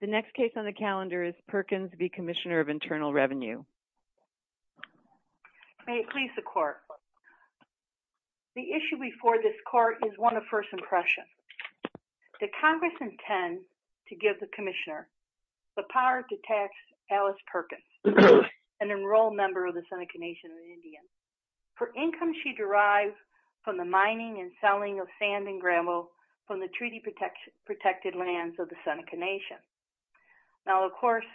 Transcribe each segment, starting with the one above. The next case on the calendar is Perkins v. Commissioner of Internal Revenue. May it please the Court. The issue before this Court is one of first impression. The Congress intends to give the Commissioner the power to tax Alice Perkins, an enrolled member of the Seneca Nation of Indians, for income she derives from the mining and selling of sand and gravel from the treaty protected lands of the Seneca Nation. Now of course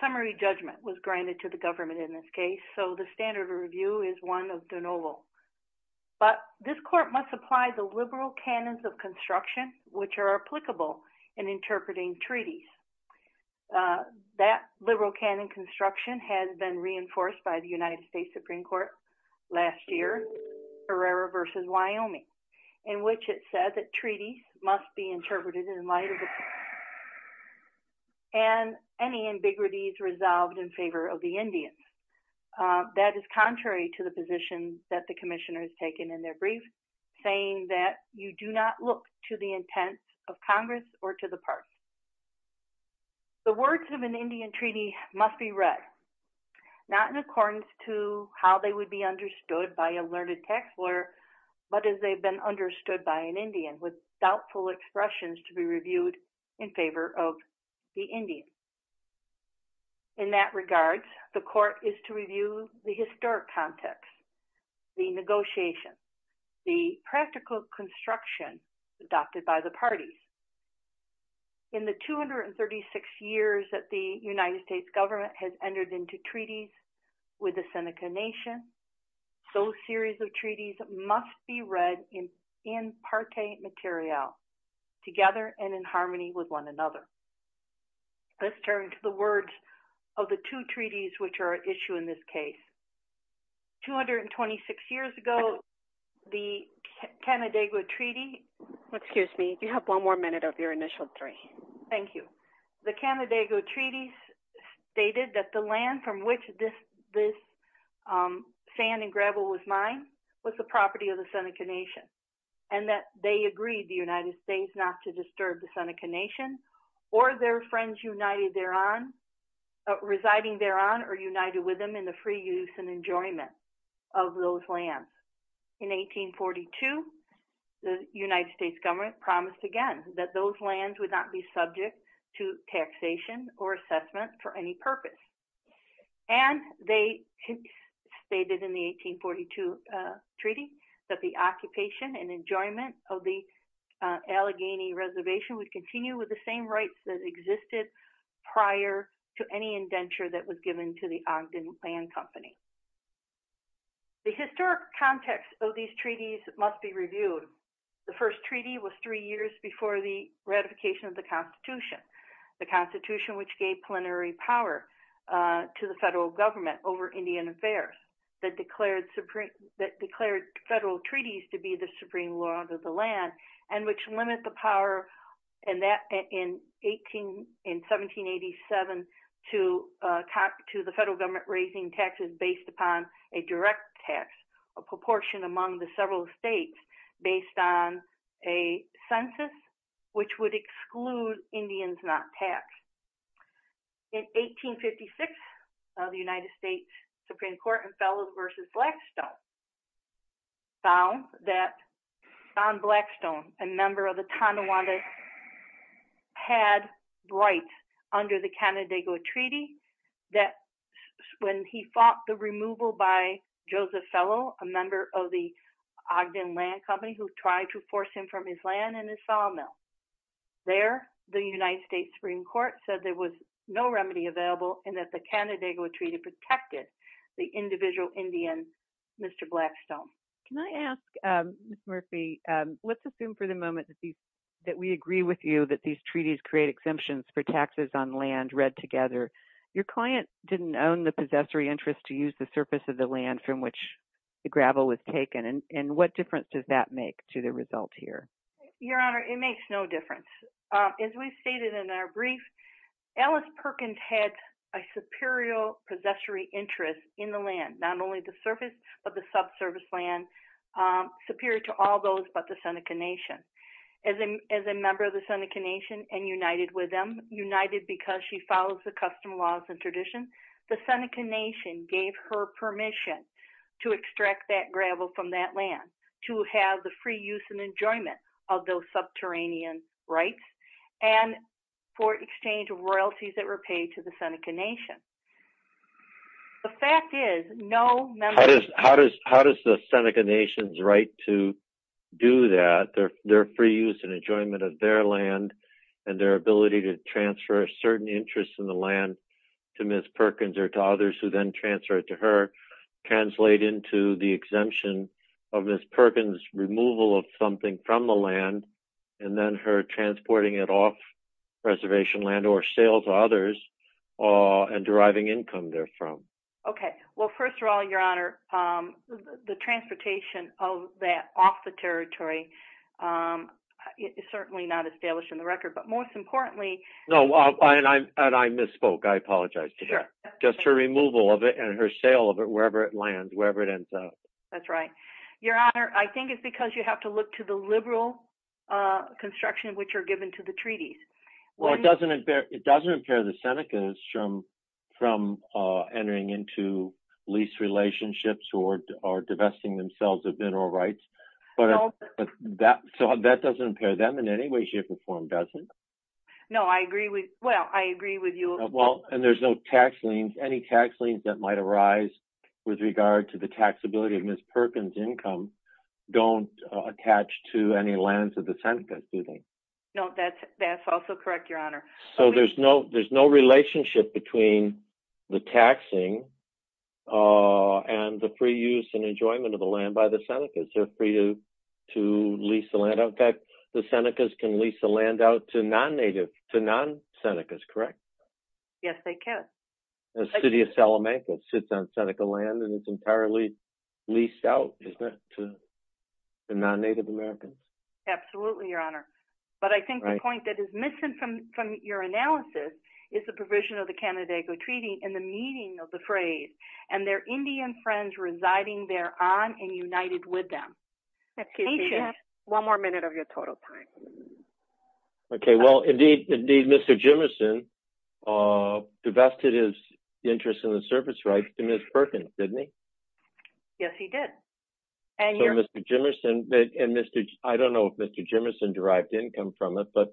summary judgment was granted to the government in this case, so the standard of review is one of de novo. But this Court must apply the liberal canons of construction which are applicable in interpreting treaties. That liberal canon construction has been reinforced by the United States Supreme Court last year, Herrera v. Wyoming, in which it said that treaties must be interpreted in light of the and any ambiguities resolved in favor of the Indians. That is contrary to the position that the Commissioner has taken in their brief, saying that you do not look to the intents of Congress or to the party. The words of an Indian treaty must be read, not in accordance to how they would be understood by a learned tax lawyer, but as they've been understood by an Indian, with doubtful expressions to be reviewed in favor of the Indians. In that regard, the Court is to review the historic context, the negotiations, the practical construction adopted by the parties. In the 236 years that the United States government has entered into treaties with the Seneca Nation, those series of treaties must be read in parte material, together and in harmony with one another. Let's turn to the words of the two treaties which are at issue in this case. 226 years ago, the Canandaigua Treaty Excuse me, you have one more minute of your initial three. Thank you. The Canandaigua Treaty stated that the land from which this sand and gravel was mined was the property of the Seneca Nation, and that they agreed the United States not to disturb the Seneca Nation or their friends united thereon, residing thereon or united with them in the free use and enjoyment of those lands. In 1842, the United States government promised again that those lands would not be subject to taxation or assessment for any purpose. And they stated in the 1842 treaty that the occupation and enjoyment of the Allegheny Reservation would continue with the same rights that existed prior to any indenture that was given to the Ogden Land Company. The historic context of these treaties must be reviewed. The first treaty was three years before the ratification of the Constitution. The Constitution, which gave plenary power to the federal government over Indian affairs, that declared federal treaties to be the supreme law of the land, and which limit the power in 1787 to the federal government raising taxes based upon a direct tax, a proportion among the several states based on a census which would exclude Indians not taxed. In 1856, the United States Supreme Court and Fellows versus Blackstone found that John Blackstone, a member of the Tonawanda had rights under the Canandaigua Treaty that when he fought the removal by Joseph Fellow, a member of the Ogden Land Company who tried to force him from his land and his sawmill. There, the United States Supreme Court said there was no remedy available and that the Canandaigua Treaty protected the individual Indian, Mr. Blackstone. Can I ask, Ms. Murphy, let's assume for the moment that we agree with you that these treaties create exemptions for taxes on land read together. Your client didn't own the possessory interest to use the surface of the land from which the gravel was taken. What difference does that make to the result here? Your Honor, it makes no difference. As we stated in our brief, Alice Perkins had a superior possessory interest in the land, not only the surface but the subsurface land superior to all those but the Seneca Nation. As a member of the Seneca Nation and united with them, united because she follows the custom laws and tradition, the Seneca Nation gave her permission to extract that gravel from that land to have the free use and enjoyment of those subterranean rights and for exchange of royalties that were paid to the Seneca Nation. The fact is, no member... How does the Seneca Nation's right to do that, their free use and enjoyment of their land and their ability to transfer a certain interest in the land to Ms. Perkins or to others who then transfer it to her, translate into the exemption of Ms. Perkins' removal of something from the land and then her transporting it off reservation land or sales to others and deriving income therefrom? First of all, Your Honor, the transportation of that off the territory is certainly not established in the record, but most importantly... And I misspoke, I apologize to that. Just her removal of it and her sale of it wherever it lands, wherever it ends up. That's right. Your Honor, I think it's because you have to look to the liberal construction which are given to the treaties. It doesn't impair the Senecas from entering into lease relationships or divesting themselves of internal rights, but that doesn't impair them in any way, shape, or form, does it? No, I agree with you. And there's no tax liens. Any tax liens that might arise with regard to the taxability of Ms. Perkins' income don't attach to any lands of the Senecas, do they? No, that's also correct, Your Honor. So there's no relationship between the taxing and the free use and enjoyment of the land by the Senecas. They're free to lease the land. In fact, the Senecas can lease the land out to non-Senecas, correct? Yes, they can. The city of Salamanca sits on Seneca land and it's entirely leased out, isn't it, to non-Native Americans? Absolutely, Your Honor. But I think the point that is missing from your analysis is the provision of the Canandaigua Treaty and the meaning of the phrase, and their Indian friends residing thereon and united with them. Excuse me. You have one more minute of your total time. Okay. Well, indeed, Mr. Jimmerson divested his interest in the service rights to Ms. Perkins, didn't he? Yes, he did. So Mr. Jimmerson and I don't know if Mr. Jimmerson derived income from it, but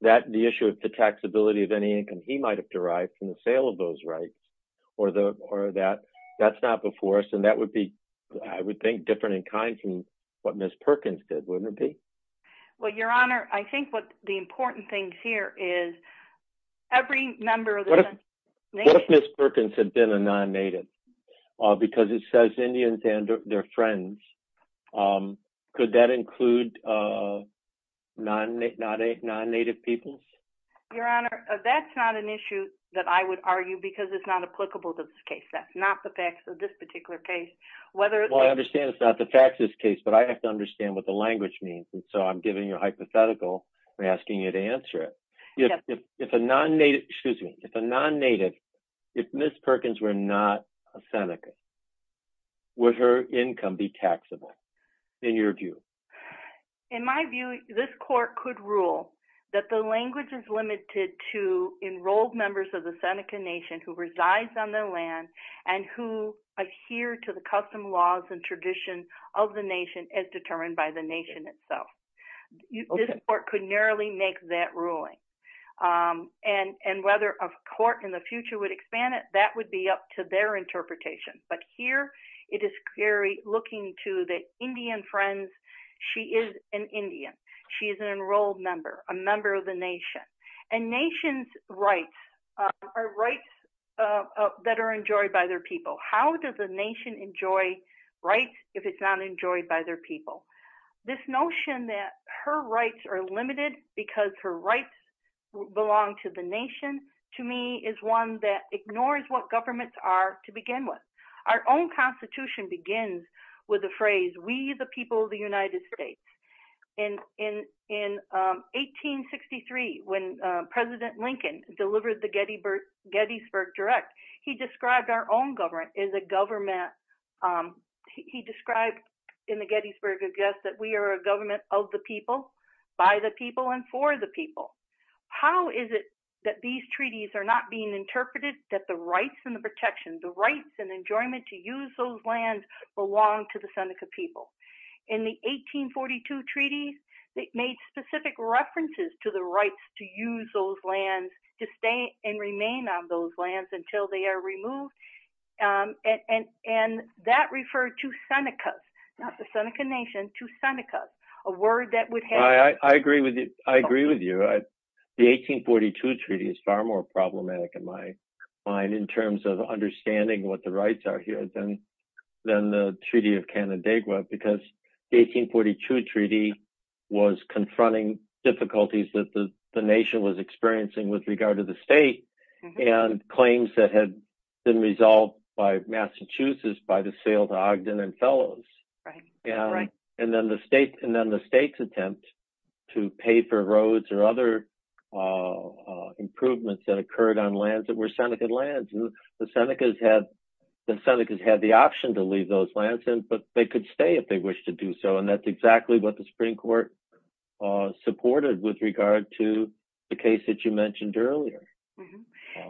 the issue of the taxability of any income he might have derived from the sale of those rights or that, that's not before us. And that would be I would think, different in kind from what Ms. Perkins did, wouldn't it be? Well, Your Honor, I think what the important thing here is every member of this nation... What if Ms. Perkins had been a non-Native? Because it says Indians and their friends. Could that include non-Native peoples? Your Honor, that's not an issue that I would argue because it's not applicable to this case. That's not the facts of this particular case. Well, I understand it's not the facts of this case, but I have to understand what the language means, and so I'm giving you a hypothetical and asking you to answer it. If a non-Native if Ms. Perkins were not a Seneca, would her income be taxable in your view? In my view, this court could rule that the language is limited to enrolled members of the Seneca Nation who resides on their land and who adhere to the custom laws and tradition of the nation as determined by the nation itself. This court could narrowly make that ruling. And whether a court in the future would expand it, that would be up to their interpretation. But here, it is very looking to the Indian friends. She is an Indian. She is an enrolled member, a member of the nation. And nation's rights are rights that are enjoyed by their people. How does a nation enjoy rights if it's not enjoyed by their people? This notion that her rights are limited because her rights belong to the nation, to me, is one that ignores what governments are to begin with. Our own Constitution begins with the phrase, we the people of the United States. In 1863, when the governor of the Gettysburg Direct, he described our own government as a government, he described in the Gettysburg address that we are a government of the people, by the people, and for the people. How is it that these treaties are not being interpreted that the rights and the protections, the rights and enjoyment to use those lands belong to the Seneca people? In the 1842 treaties, they made specific references to the rights to use those lands, to stay and remain on those lands until they are removed. And that referred to Seneca, not the Seneca nation, to Seneca, a word that would have... I agree with you. The 1842 treaty is far more problematic in my mind in terms of understanding what the rights are here than the treaty of Canandaigua, because the 1842 treaty was a treaty that the Seneca nation was experiencing with regard to the state and claims that had been resolved by Massachusetts by the sale to Ogden and fellows. And then the state's attempt to pay for roads or other improvements that occurred on lands that were Seneca lands. The Senecas had the option to leave those lands, but they could stay if they wished to do so. And that's the case that you mentioned earlier.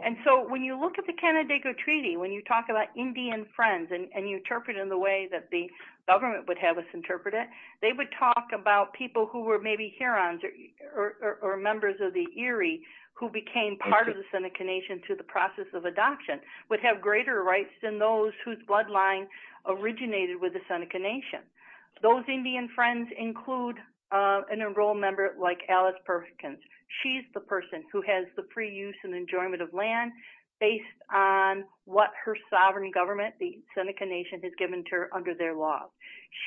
And so when you look at the Canandaigua treaty, when you talk about Indian friends and you interpret it in the way that the government would have us interpret it, they would talk about people who were maybe Hurons or members of the Erie who became part of the Seneca nation through the process of adoption, would have greater rights than those whose bloodline originated with the Seneca nation. Those Indian friends include an enrolled member like Alice Perkins. She's the person who has the free use and enjoyment of land based on what her sovereign government, the Seneca nation, has given to her under their laws.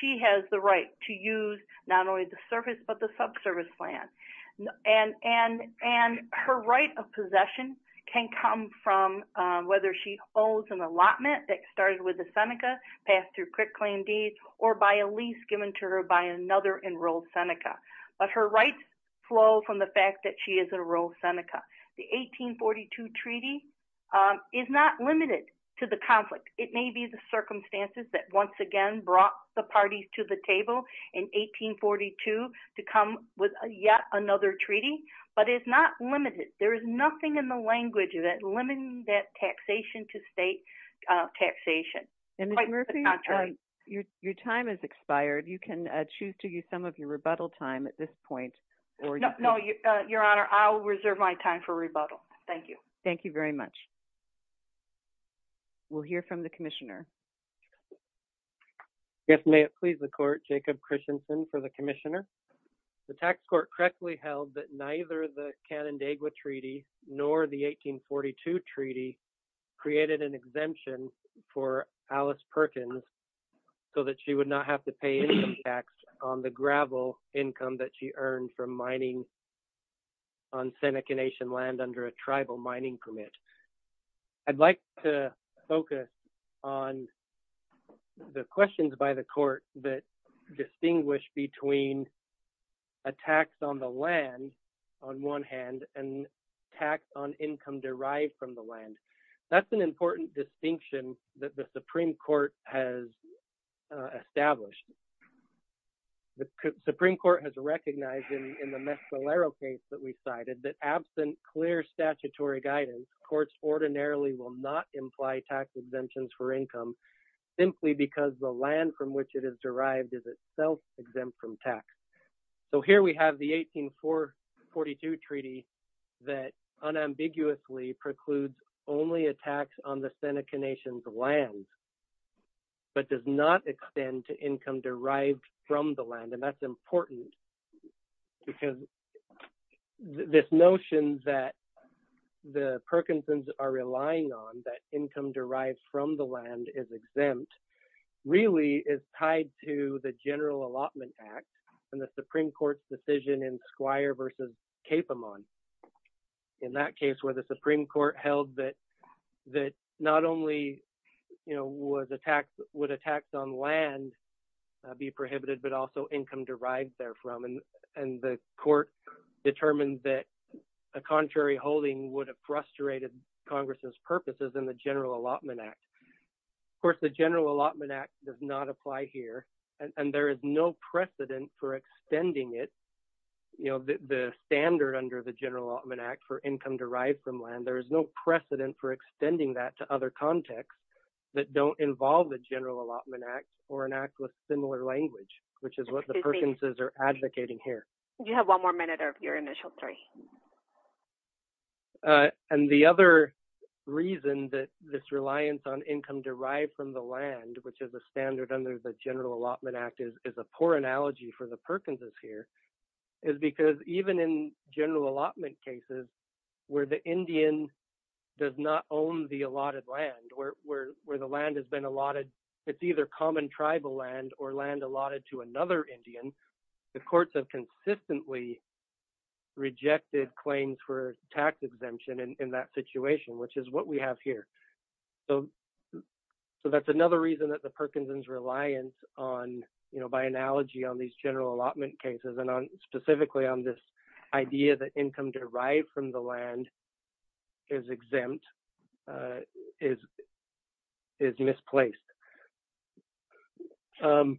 She has the right to use not only the surface but the subsurface land. And her right of possession can come from whether she owes an allotment that started with the Seneca passed through quick claim deeds or by a lease given to her by another enrolled Seneca. But her rights flow from the fact that she is a enrolled Seneca. The 1842 treaty is not limited to the conflict. It may be the circumstances that once again brought the parties to the table in 1842 to come with yet another treaty, but it's not limited. There is nothing in the language that limits that taxation to state taxation. Your time has expired. You can choose to use some of your rebuttal time at this point. Your Honor, I will reserve my time for rebuttal. Thank you. We'll hear from the Commissioner. May it please the Court, Jacob Christensen for the Commissioner. The tax court correctly held that neither the Canandaigua treaty nor the 1842 treaty created an exemption for Alice Perkins so that she would not have to pay any tax on the gravel income that she earned from mining on Seneca Nation land under a tribal mining permit. I'd like to focus on the questions by the Court that distinguish between a tax on the land on one hand and tax on income derived from the land. That's an important distinction that the Supreme Court has established. The Supreme Court has recognized in the Mescalero case that we cited that absent clear statutory guidance, courts ordinarily will not imply tax exemptions for income simply because the land from which it is derived is itself exempt from tax. So here we have the 1842 treaty that unambiguously precludes only a tax on the Seneca Nation's land but does not extend to income derived from the land. And that's important because this notion that the Perkinsons are relying on, that income derived from the land is exempt, really is tied to the General Allotment Act and the Supreme Court's decision in Capamon. In that case where the Supreme Court held that not only would a tax on land be prohibited but also income derived therefrom and the Court determined that a contrary holding would have frustrated Congress's purposes in the General Allotment Act. Of course the General Allotment Act does not apply here and there is no precedent for extending it. The standard under the General Allotment Act for income derived from land, there is no precedent for extending that to other contexts that don't involve the General Allotment Act or an act with similar language, which is what the Perkinsons are advocating here. You have one more minute of your initial three. And the other reason that this reliance on income derived from the land, which is a standard under the General Allotment Act, is a poor analogy for the Perkinsons here, is because even in General Allotment cases where the Indian does not own the allotted land, where the land has been allotted it's either common tribal land or land allotted to another Indian, the courts have consistently rejected claims for tax exemption in that situation, which is what we have here. So that's another reason that the Perkinsons' reliance on, by analogy on these General Allotment cases and specifically on this idea that income derived from the land is exempt, is misplaced. The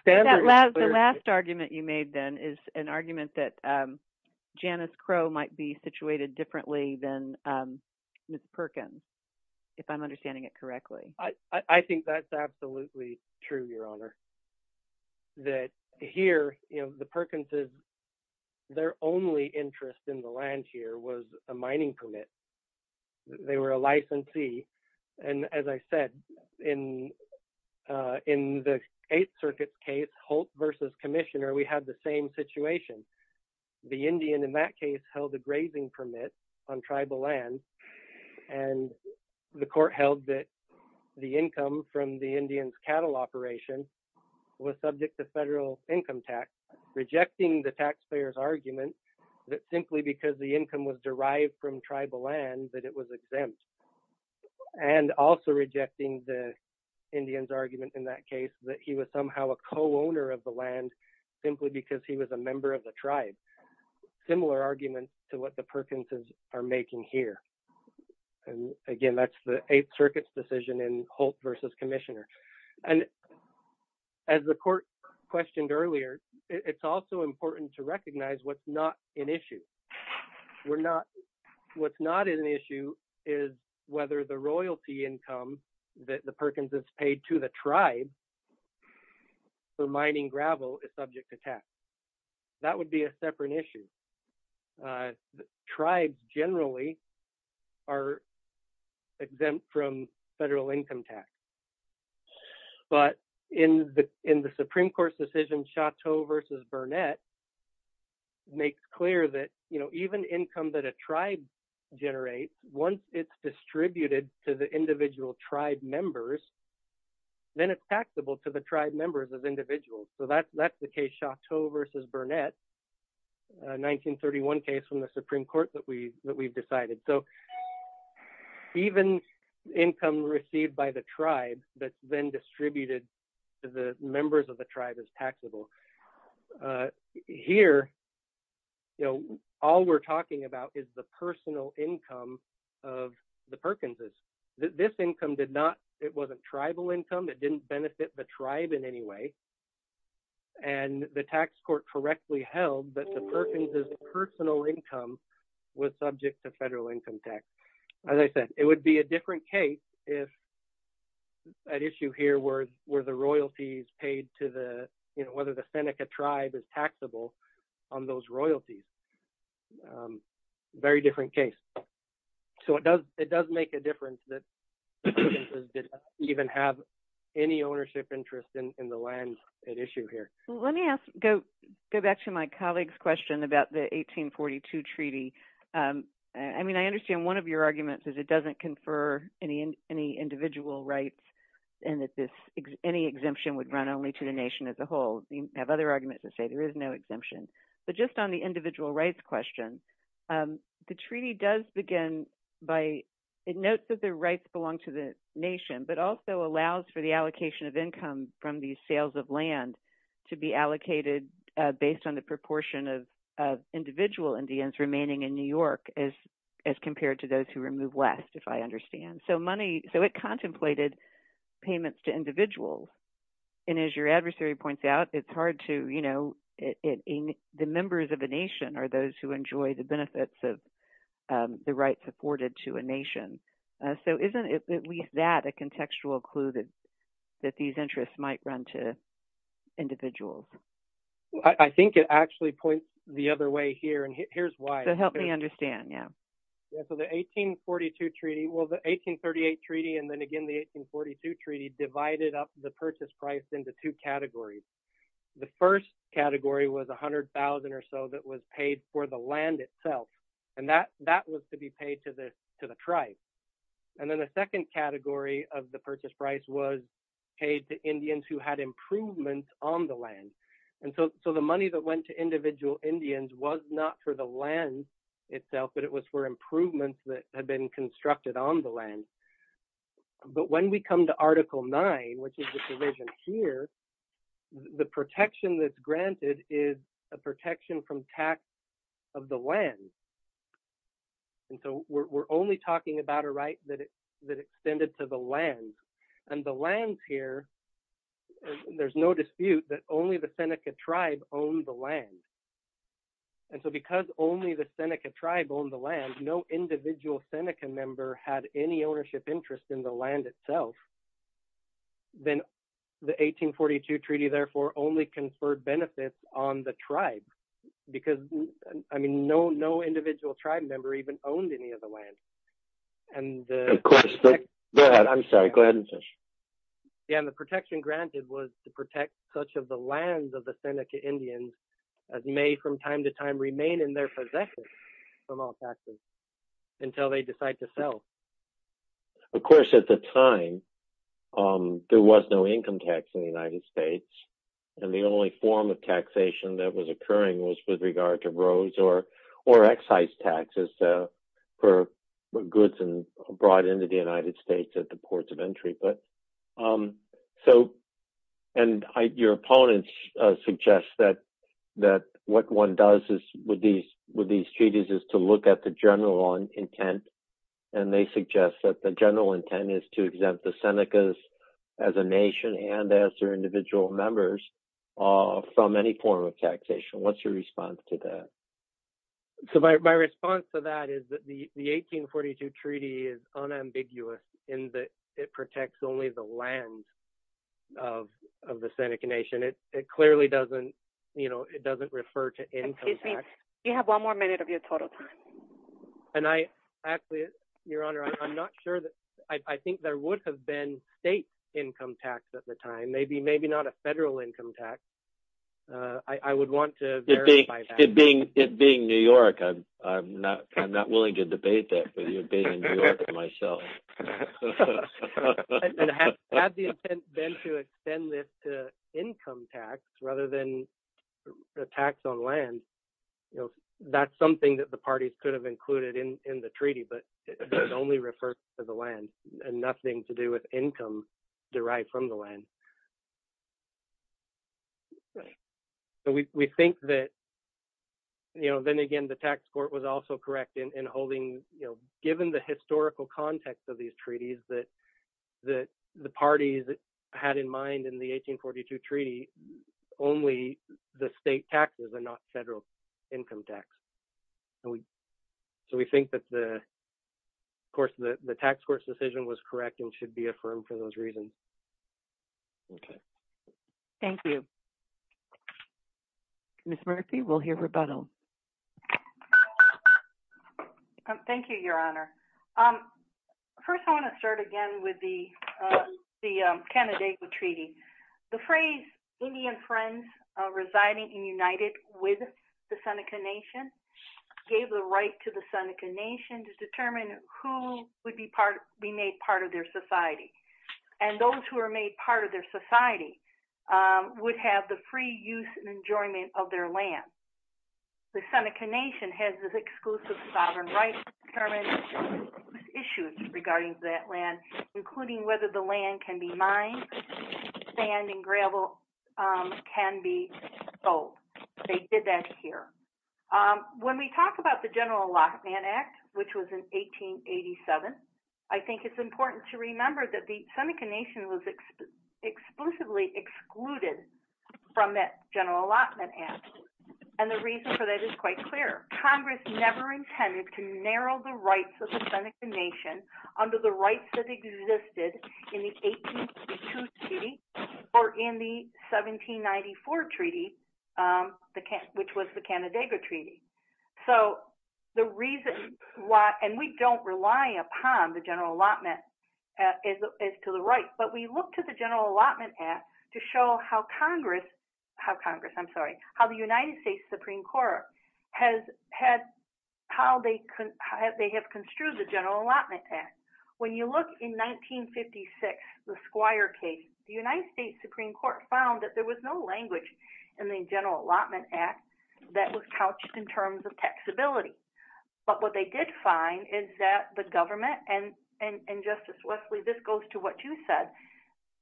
standard... The last argument you made then is an argument that Janice Crowe might be situated differently than Ms. Perkins, if I'm understanding it correctly. I think that's absolutely true, Your Honor. That here, the Perkinsons, their only interest in the land here was a mining permit. They were a licensee and as I said, in the Eighth Circuit case, Holt v. Commissioner, we had the same situation. The Indian in that case held a grazing permit on tribal land and the court held that the income from the Indian's cattle operation was subject to federal income tax, rejecting the taxpayer's argument that simply because the income was derived from tribal land that it was exempt. And also rejecting the Indian's argument in that case that he was somehow a co-owner of the land simply because he was a member of the tribe. Similar argument to what the Perkinsons are making here. And again, that's the Eighth Circuit's decision in Holt v. Commissioner. As the court questioned earlier, it's also important to recognize what's not an issue. What's not an issue is whether the royalty income that the Perkinsons paid to the tribe for mining gravel is subject to tax. That would be a separate issue. Tribes generally are exempt from federal income tax. But in the Supreme Court's decision, Chateau v. Burnett makes clear that even income that a tribe generates, once it's distributed to the individual tribe members, then it's taxable to the tribe members as individuals. So that's the case in Chateau v. Burnett, a 1931 case from the Supreme Court that we've decided. So even income received by the tribe that's then distributed to the members of the tribe is taxable. Here, all we're talking about is the personal income of the Perkinsons. This income did not, it wasn't tribal income. It didn't benefit the tribe in any way. And the tax court correctly held that the Perkinsons' personal income was subject to federal income tax. As I said, it would be a different case if an issue here were the royalties paid to the, whether the Seneca tribe is taxable on those royalties. Very different case. So it does make a difference that the Perkinsons didn't even have any ownership interest in the lands at issue here. Let me go back to my colleague's question about the 1842 treaty. I mean, I understand one of your arguments is it doesn't confer any individual rights, and that any exemption would run only to the nation as a whole. You have other arguments that say there is no exemption. But just on the individual rights question, the treaty does begin by, it notes that the rights belong to the nation, but also allows for the allocation of income from the sales of land to be allocated based on the proportion of individual Indians remaining in New York as compared to those who were moved west, if I understand. So money, so it contemplated payments to individuals. And as your adversary points out, it's hard to, you know, the members of a nation are those who enjoy the benefits of the rights afforded to a nation. So isn't at least that a contextual clue that these interests might run to individuals? I think it actually points the other way here, and here's why. So help me understand, yeah. So the 1842 treaty, well the 1838 treaty and then again the 1842 treaty divided up the purchase price into two categories. The first category was $100,000 or so that was paid for the land itself. And that was to be paid to the tribe. And then the second category of the purchase price was paid to Indians who had improvements on the land. And so the money that went to individual Indians was not for the land itself, but it was for improvements that had been constructed on the land. But when we come to Article 9, which is the provision here, the protection that's granted is a protection from tax of the land. And so we're only talking about a right that extended to the land. And the land here, there's no dispute that only the Seneca tribe owned the land. And so because only the Seneca tribe owned the land, no individual Seneca member had any ownership interest in the land itself. Then the 1842 treaty therefore only conferred benefits on the tribe because no individual tribe member even owned any of the land. And the protection granted was to protect such of the lands of the Seneca Indians as may from time to time remain in their possession from all taxes until they decide to sell. Of course at the time there was no income tax in the United States. And the only form of taxation that was occurring was with regard to rows or excise taxes for goods brought into the United States at the ports of entry. And your opponents suggest that what one does with these treaties is to look at the general intent. And they suggest that the general intent is to exempt the Senecas as a individual members from any form of taxation. What's your response to that? So my response to that is that the 1842 treaty is unambiguous in that it protects only the land of the Seneca Nation. It clearly doesn't refer to income tax. You have one more minute of your total time. Your Honor, I'm not sure. I think there would have been state income tax at the time. Maybe not a federal income tax. I would want to verify that. It being New York, I'm not willing to debate that with you being in New York myself. And had the intent been to extend this to income tax rather than tax on land, that's something that the parties could have included in the treaty. But it only refers to the land and nothing to do with income derived from the land. So we think that then again the tax court was also correct in holding given the historical context of these treaties that the parties had in mind in the 1842 treaty only the state taxes and not federal income tax. So we think that of course the tax court's decision was correct and should be affirmed for those reasons. Thank you. Ms. Murphy, we'll hear rebuttal. Thank you, Your Honor. First I want to start again with the Canandaigua Treaty. The phrase Indian friends residing and united with the Seneca Nation gave the right to the Seneca Nation to determine who would be made part of their society. And those who are made part of their society would have the free use and enjoyment of their land. The Seneca Nation has this exclusive sovereign right to determine issues regarding that land, including whether the land can be mined, sand and gravel can be sold. They did that here. When we talk about the General Allotment Act, which was in 1887, I think it's important to remember that the Seneca Nation was exclusively excluded from that General Allotment Act. And the reason for that is quite clear. Congress never intended to narrow the rights of the Seneca Nation under the rights that existed in the 1842 treaty or in the 1794 treaty, which was the Canandaigua Treaty. So the reason why, and we don't rely upon the General Allotment Act as to the right, but we look to the General Allotment Act to show how Congress, I'm sorry, how the United States Supreme Court has construed the General Allotment Act. When you look in 1956, the Squire case, the United States Supreme Court found that there was no language in the General Allotment Act that was couched in terms of taxability. But what they did find is that the government, and Justice Wesley, this goes to what you said,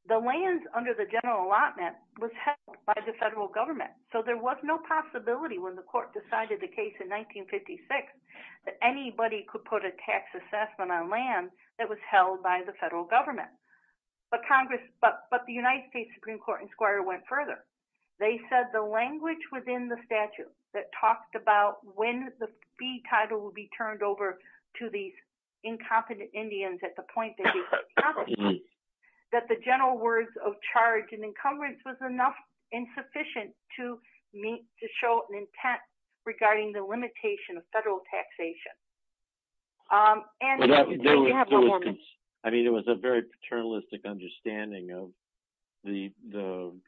the lands under the General Allotment was held by the federal government. So there was no possibility when the court decided the case in 1956 that anybody could put a tax assessment on land that was held by the federal government. But Congress, but the United States Supreme Court and Squire went further. They said the language within the statute that talked about when the fee title would be turned over to these incompetent Indians at the point that they were incompetent, that the general words of charge and encumbrance was enough and sufficient to show an intent regarding the limitation of federal taxation. And you have one more minute. I mean, it was a very paternalistic understanding of the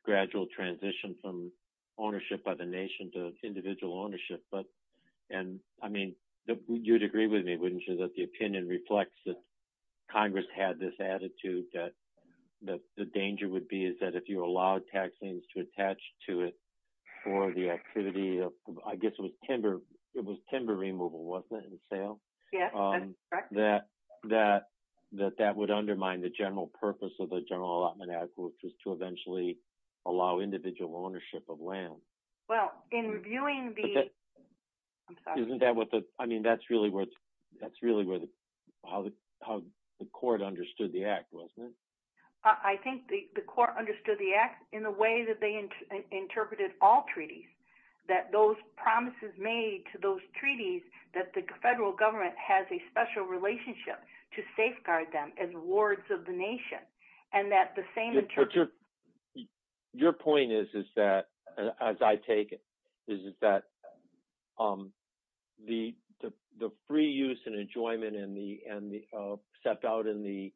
gradual transition from ownership by the nation to individual ownership. And I mean, you'd agree with me, wouldn't you, that the opinion reflects that Congress had this attitude that the danger would be is that if you allowed taxings to attach to it for the activity of, I guess it was timber removal, wasn't it, in the sale? Yes, that's correct. That that would undermine the general purpose of the General Allotment Act, which was to eventually allow individual ownership of land. Well, in reviewing the, I'm sorry. Isn't that what the, I mean, that's really where the, how the court understood the act, wasn't it? I think the court understood the act in the way that they interpreted all treaties. That those promises made to those treaties, that the federal government has a special relationship to safeguard them as wards of the nation and that the same... Your point is that, as I take it, is that the free use and enjoyment and the step out in the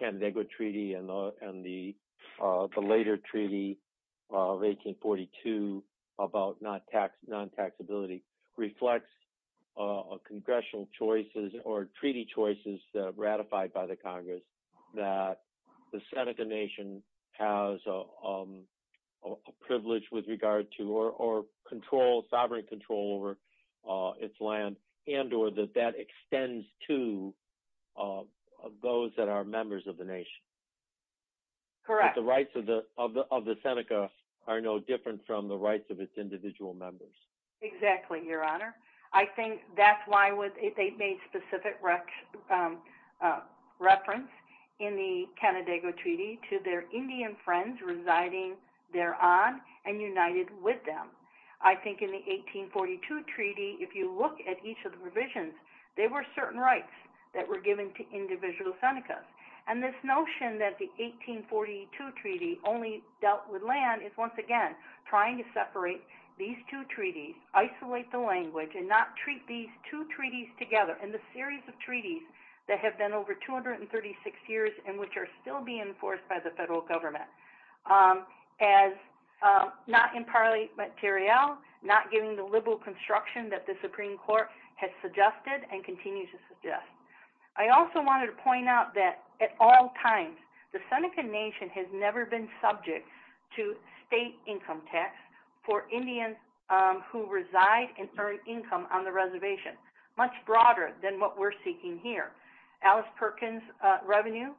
San Diego Treaty and the later treaty of 1842 about non-taxability reflects congressional choices or treaty choices ratified by the Congress that the Seneca Nation has a privilege with regard to or control, sovereign control over its land and or that that extends to those that are members of the nation. Correct. That the rights of the Seneca are no different from the rights of its individual members. Exactly, Your Honor. I think that's why they made specific reference in the San Diego Treaty to their Indian friends residing thereon and united with them. I think in the 1842 treaty, if you look at each of the provisions, there were certain rights that were given to individual Seneca. And this notion that the 1842 treaty only dealt with land is, once again, trying to separate these two treaties, isolate the language, and not treat these two treaties together in the series of treaties that have been over 236 years and which are still being enforced by the federal government as not in parallel, not giving the liberal construction that the Supreme Court has suggested and continues to suggest. I also wanted to point out that at all times the Seneca Nation has never been subject to state income tax for Indians who reside and earn income on the reservation, much broader than what we're seeking here. Alice Perkins' revenue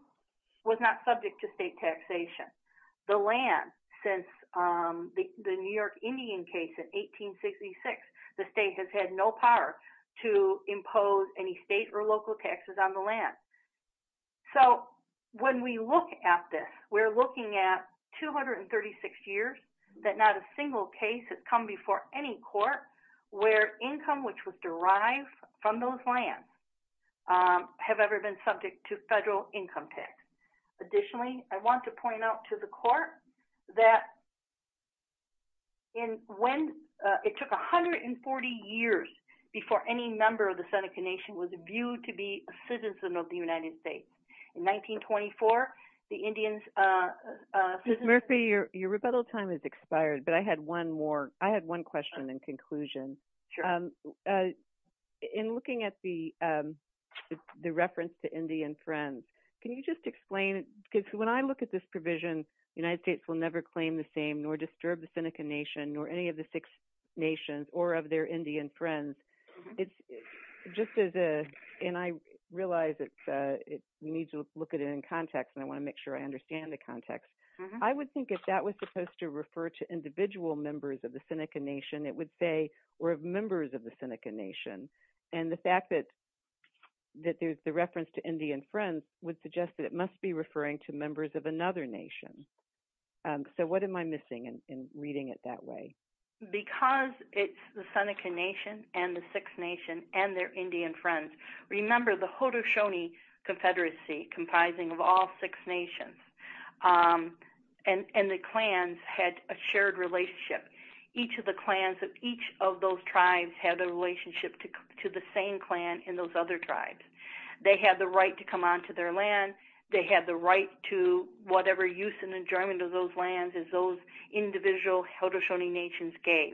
was not subject to state taxation. The land, since the New York Indian case in 1866, the state has had no power to impose any state or local taxes on the land. So when we look at this, we're looking at 236 years that not a single case has come before any court where income which was derived from those lands have ever been subject to federal income tax. Additionally, I want to point out to the Court that when it took 140 years before any member of the Seneca Nation was in the United States. In 1924, the Indians Murphy, your rebuttal time has expired, but I had one more question in conclusion. In looking at the reference to Indian friends, can you just explain, because when I look at this provision, the United States will never claim the same, nor disturb the Seneca Nation, nor any of the six nations, or of their Indian friends. It's just as a, and I realize it needs to look at it in context, and I want to make sure I understand the context. I would think if that was supposed to refer to individual members of the Seneca Nation, it would say, or members of the Seneca Nation. And the fact that there's the reference to Indian friends would suggest that it must be referring to members of another nation. So what am I missing in reading it that way? Because it's the Seneca Nation, and the six nations, and their Indian friends. Remember the Haudenosaunee Confederacy, comprising of all six nations, and the clans had a shared relationship. Each of the clans of each of those tribes had a relationship to the same clan in those other tribes. They had the right to come onto their land, they had the right to whatever use and enjoyment of those lands as those individual Haudenosaunee Nations gave.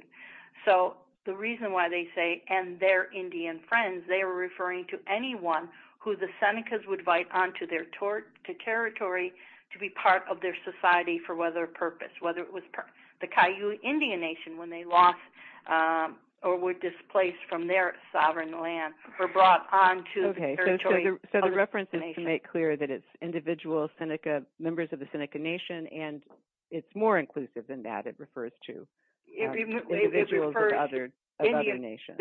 So the reason why they say and their Indian friends, they were referring to anyone who the Senecas would invite onto their territory to be part of their society for whatever purpose. Whether it was the Cayuga Indian Nation when they lost, or were displaced from their sovereign land, or brought onto the territory of the nation. So the reference is to make clear that it's individual Seneca, members of the Seneca Nation, and it's more inclusive than that. It refers to individuals of other nations.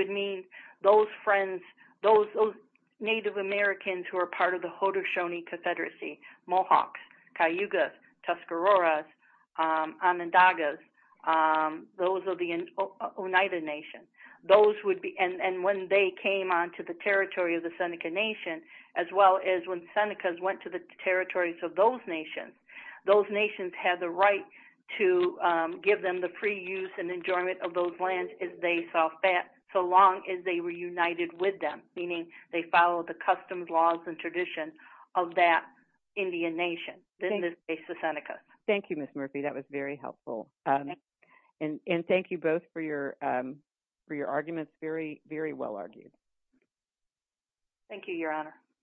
Native Americans who are part of the Haudenosaunee Confederacy Mohawks, Cayugas, Tuscaroras, Onondagas, those are the Oneida Nations. And when they came onto the territory of the Seneca Nation, as well as when Senecas went to the territories of those nations. Those nations had the right to give them the free use and enjoyment of those lands as they saw fit, so long as they were united with them. Meaning they followed the customs, laws, and traditions of that Indian Nation. Thank you, Ms. Murphy, that was very helpful. And thank you both for your arguments, very well argued. Thank you, Your Honor.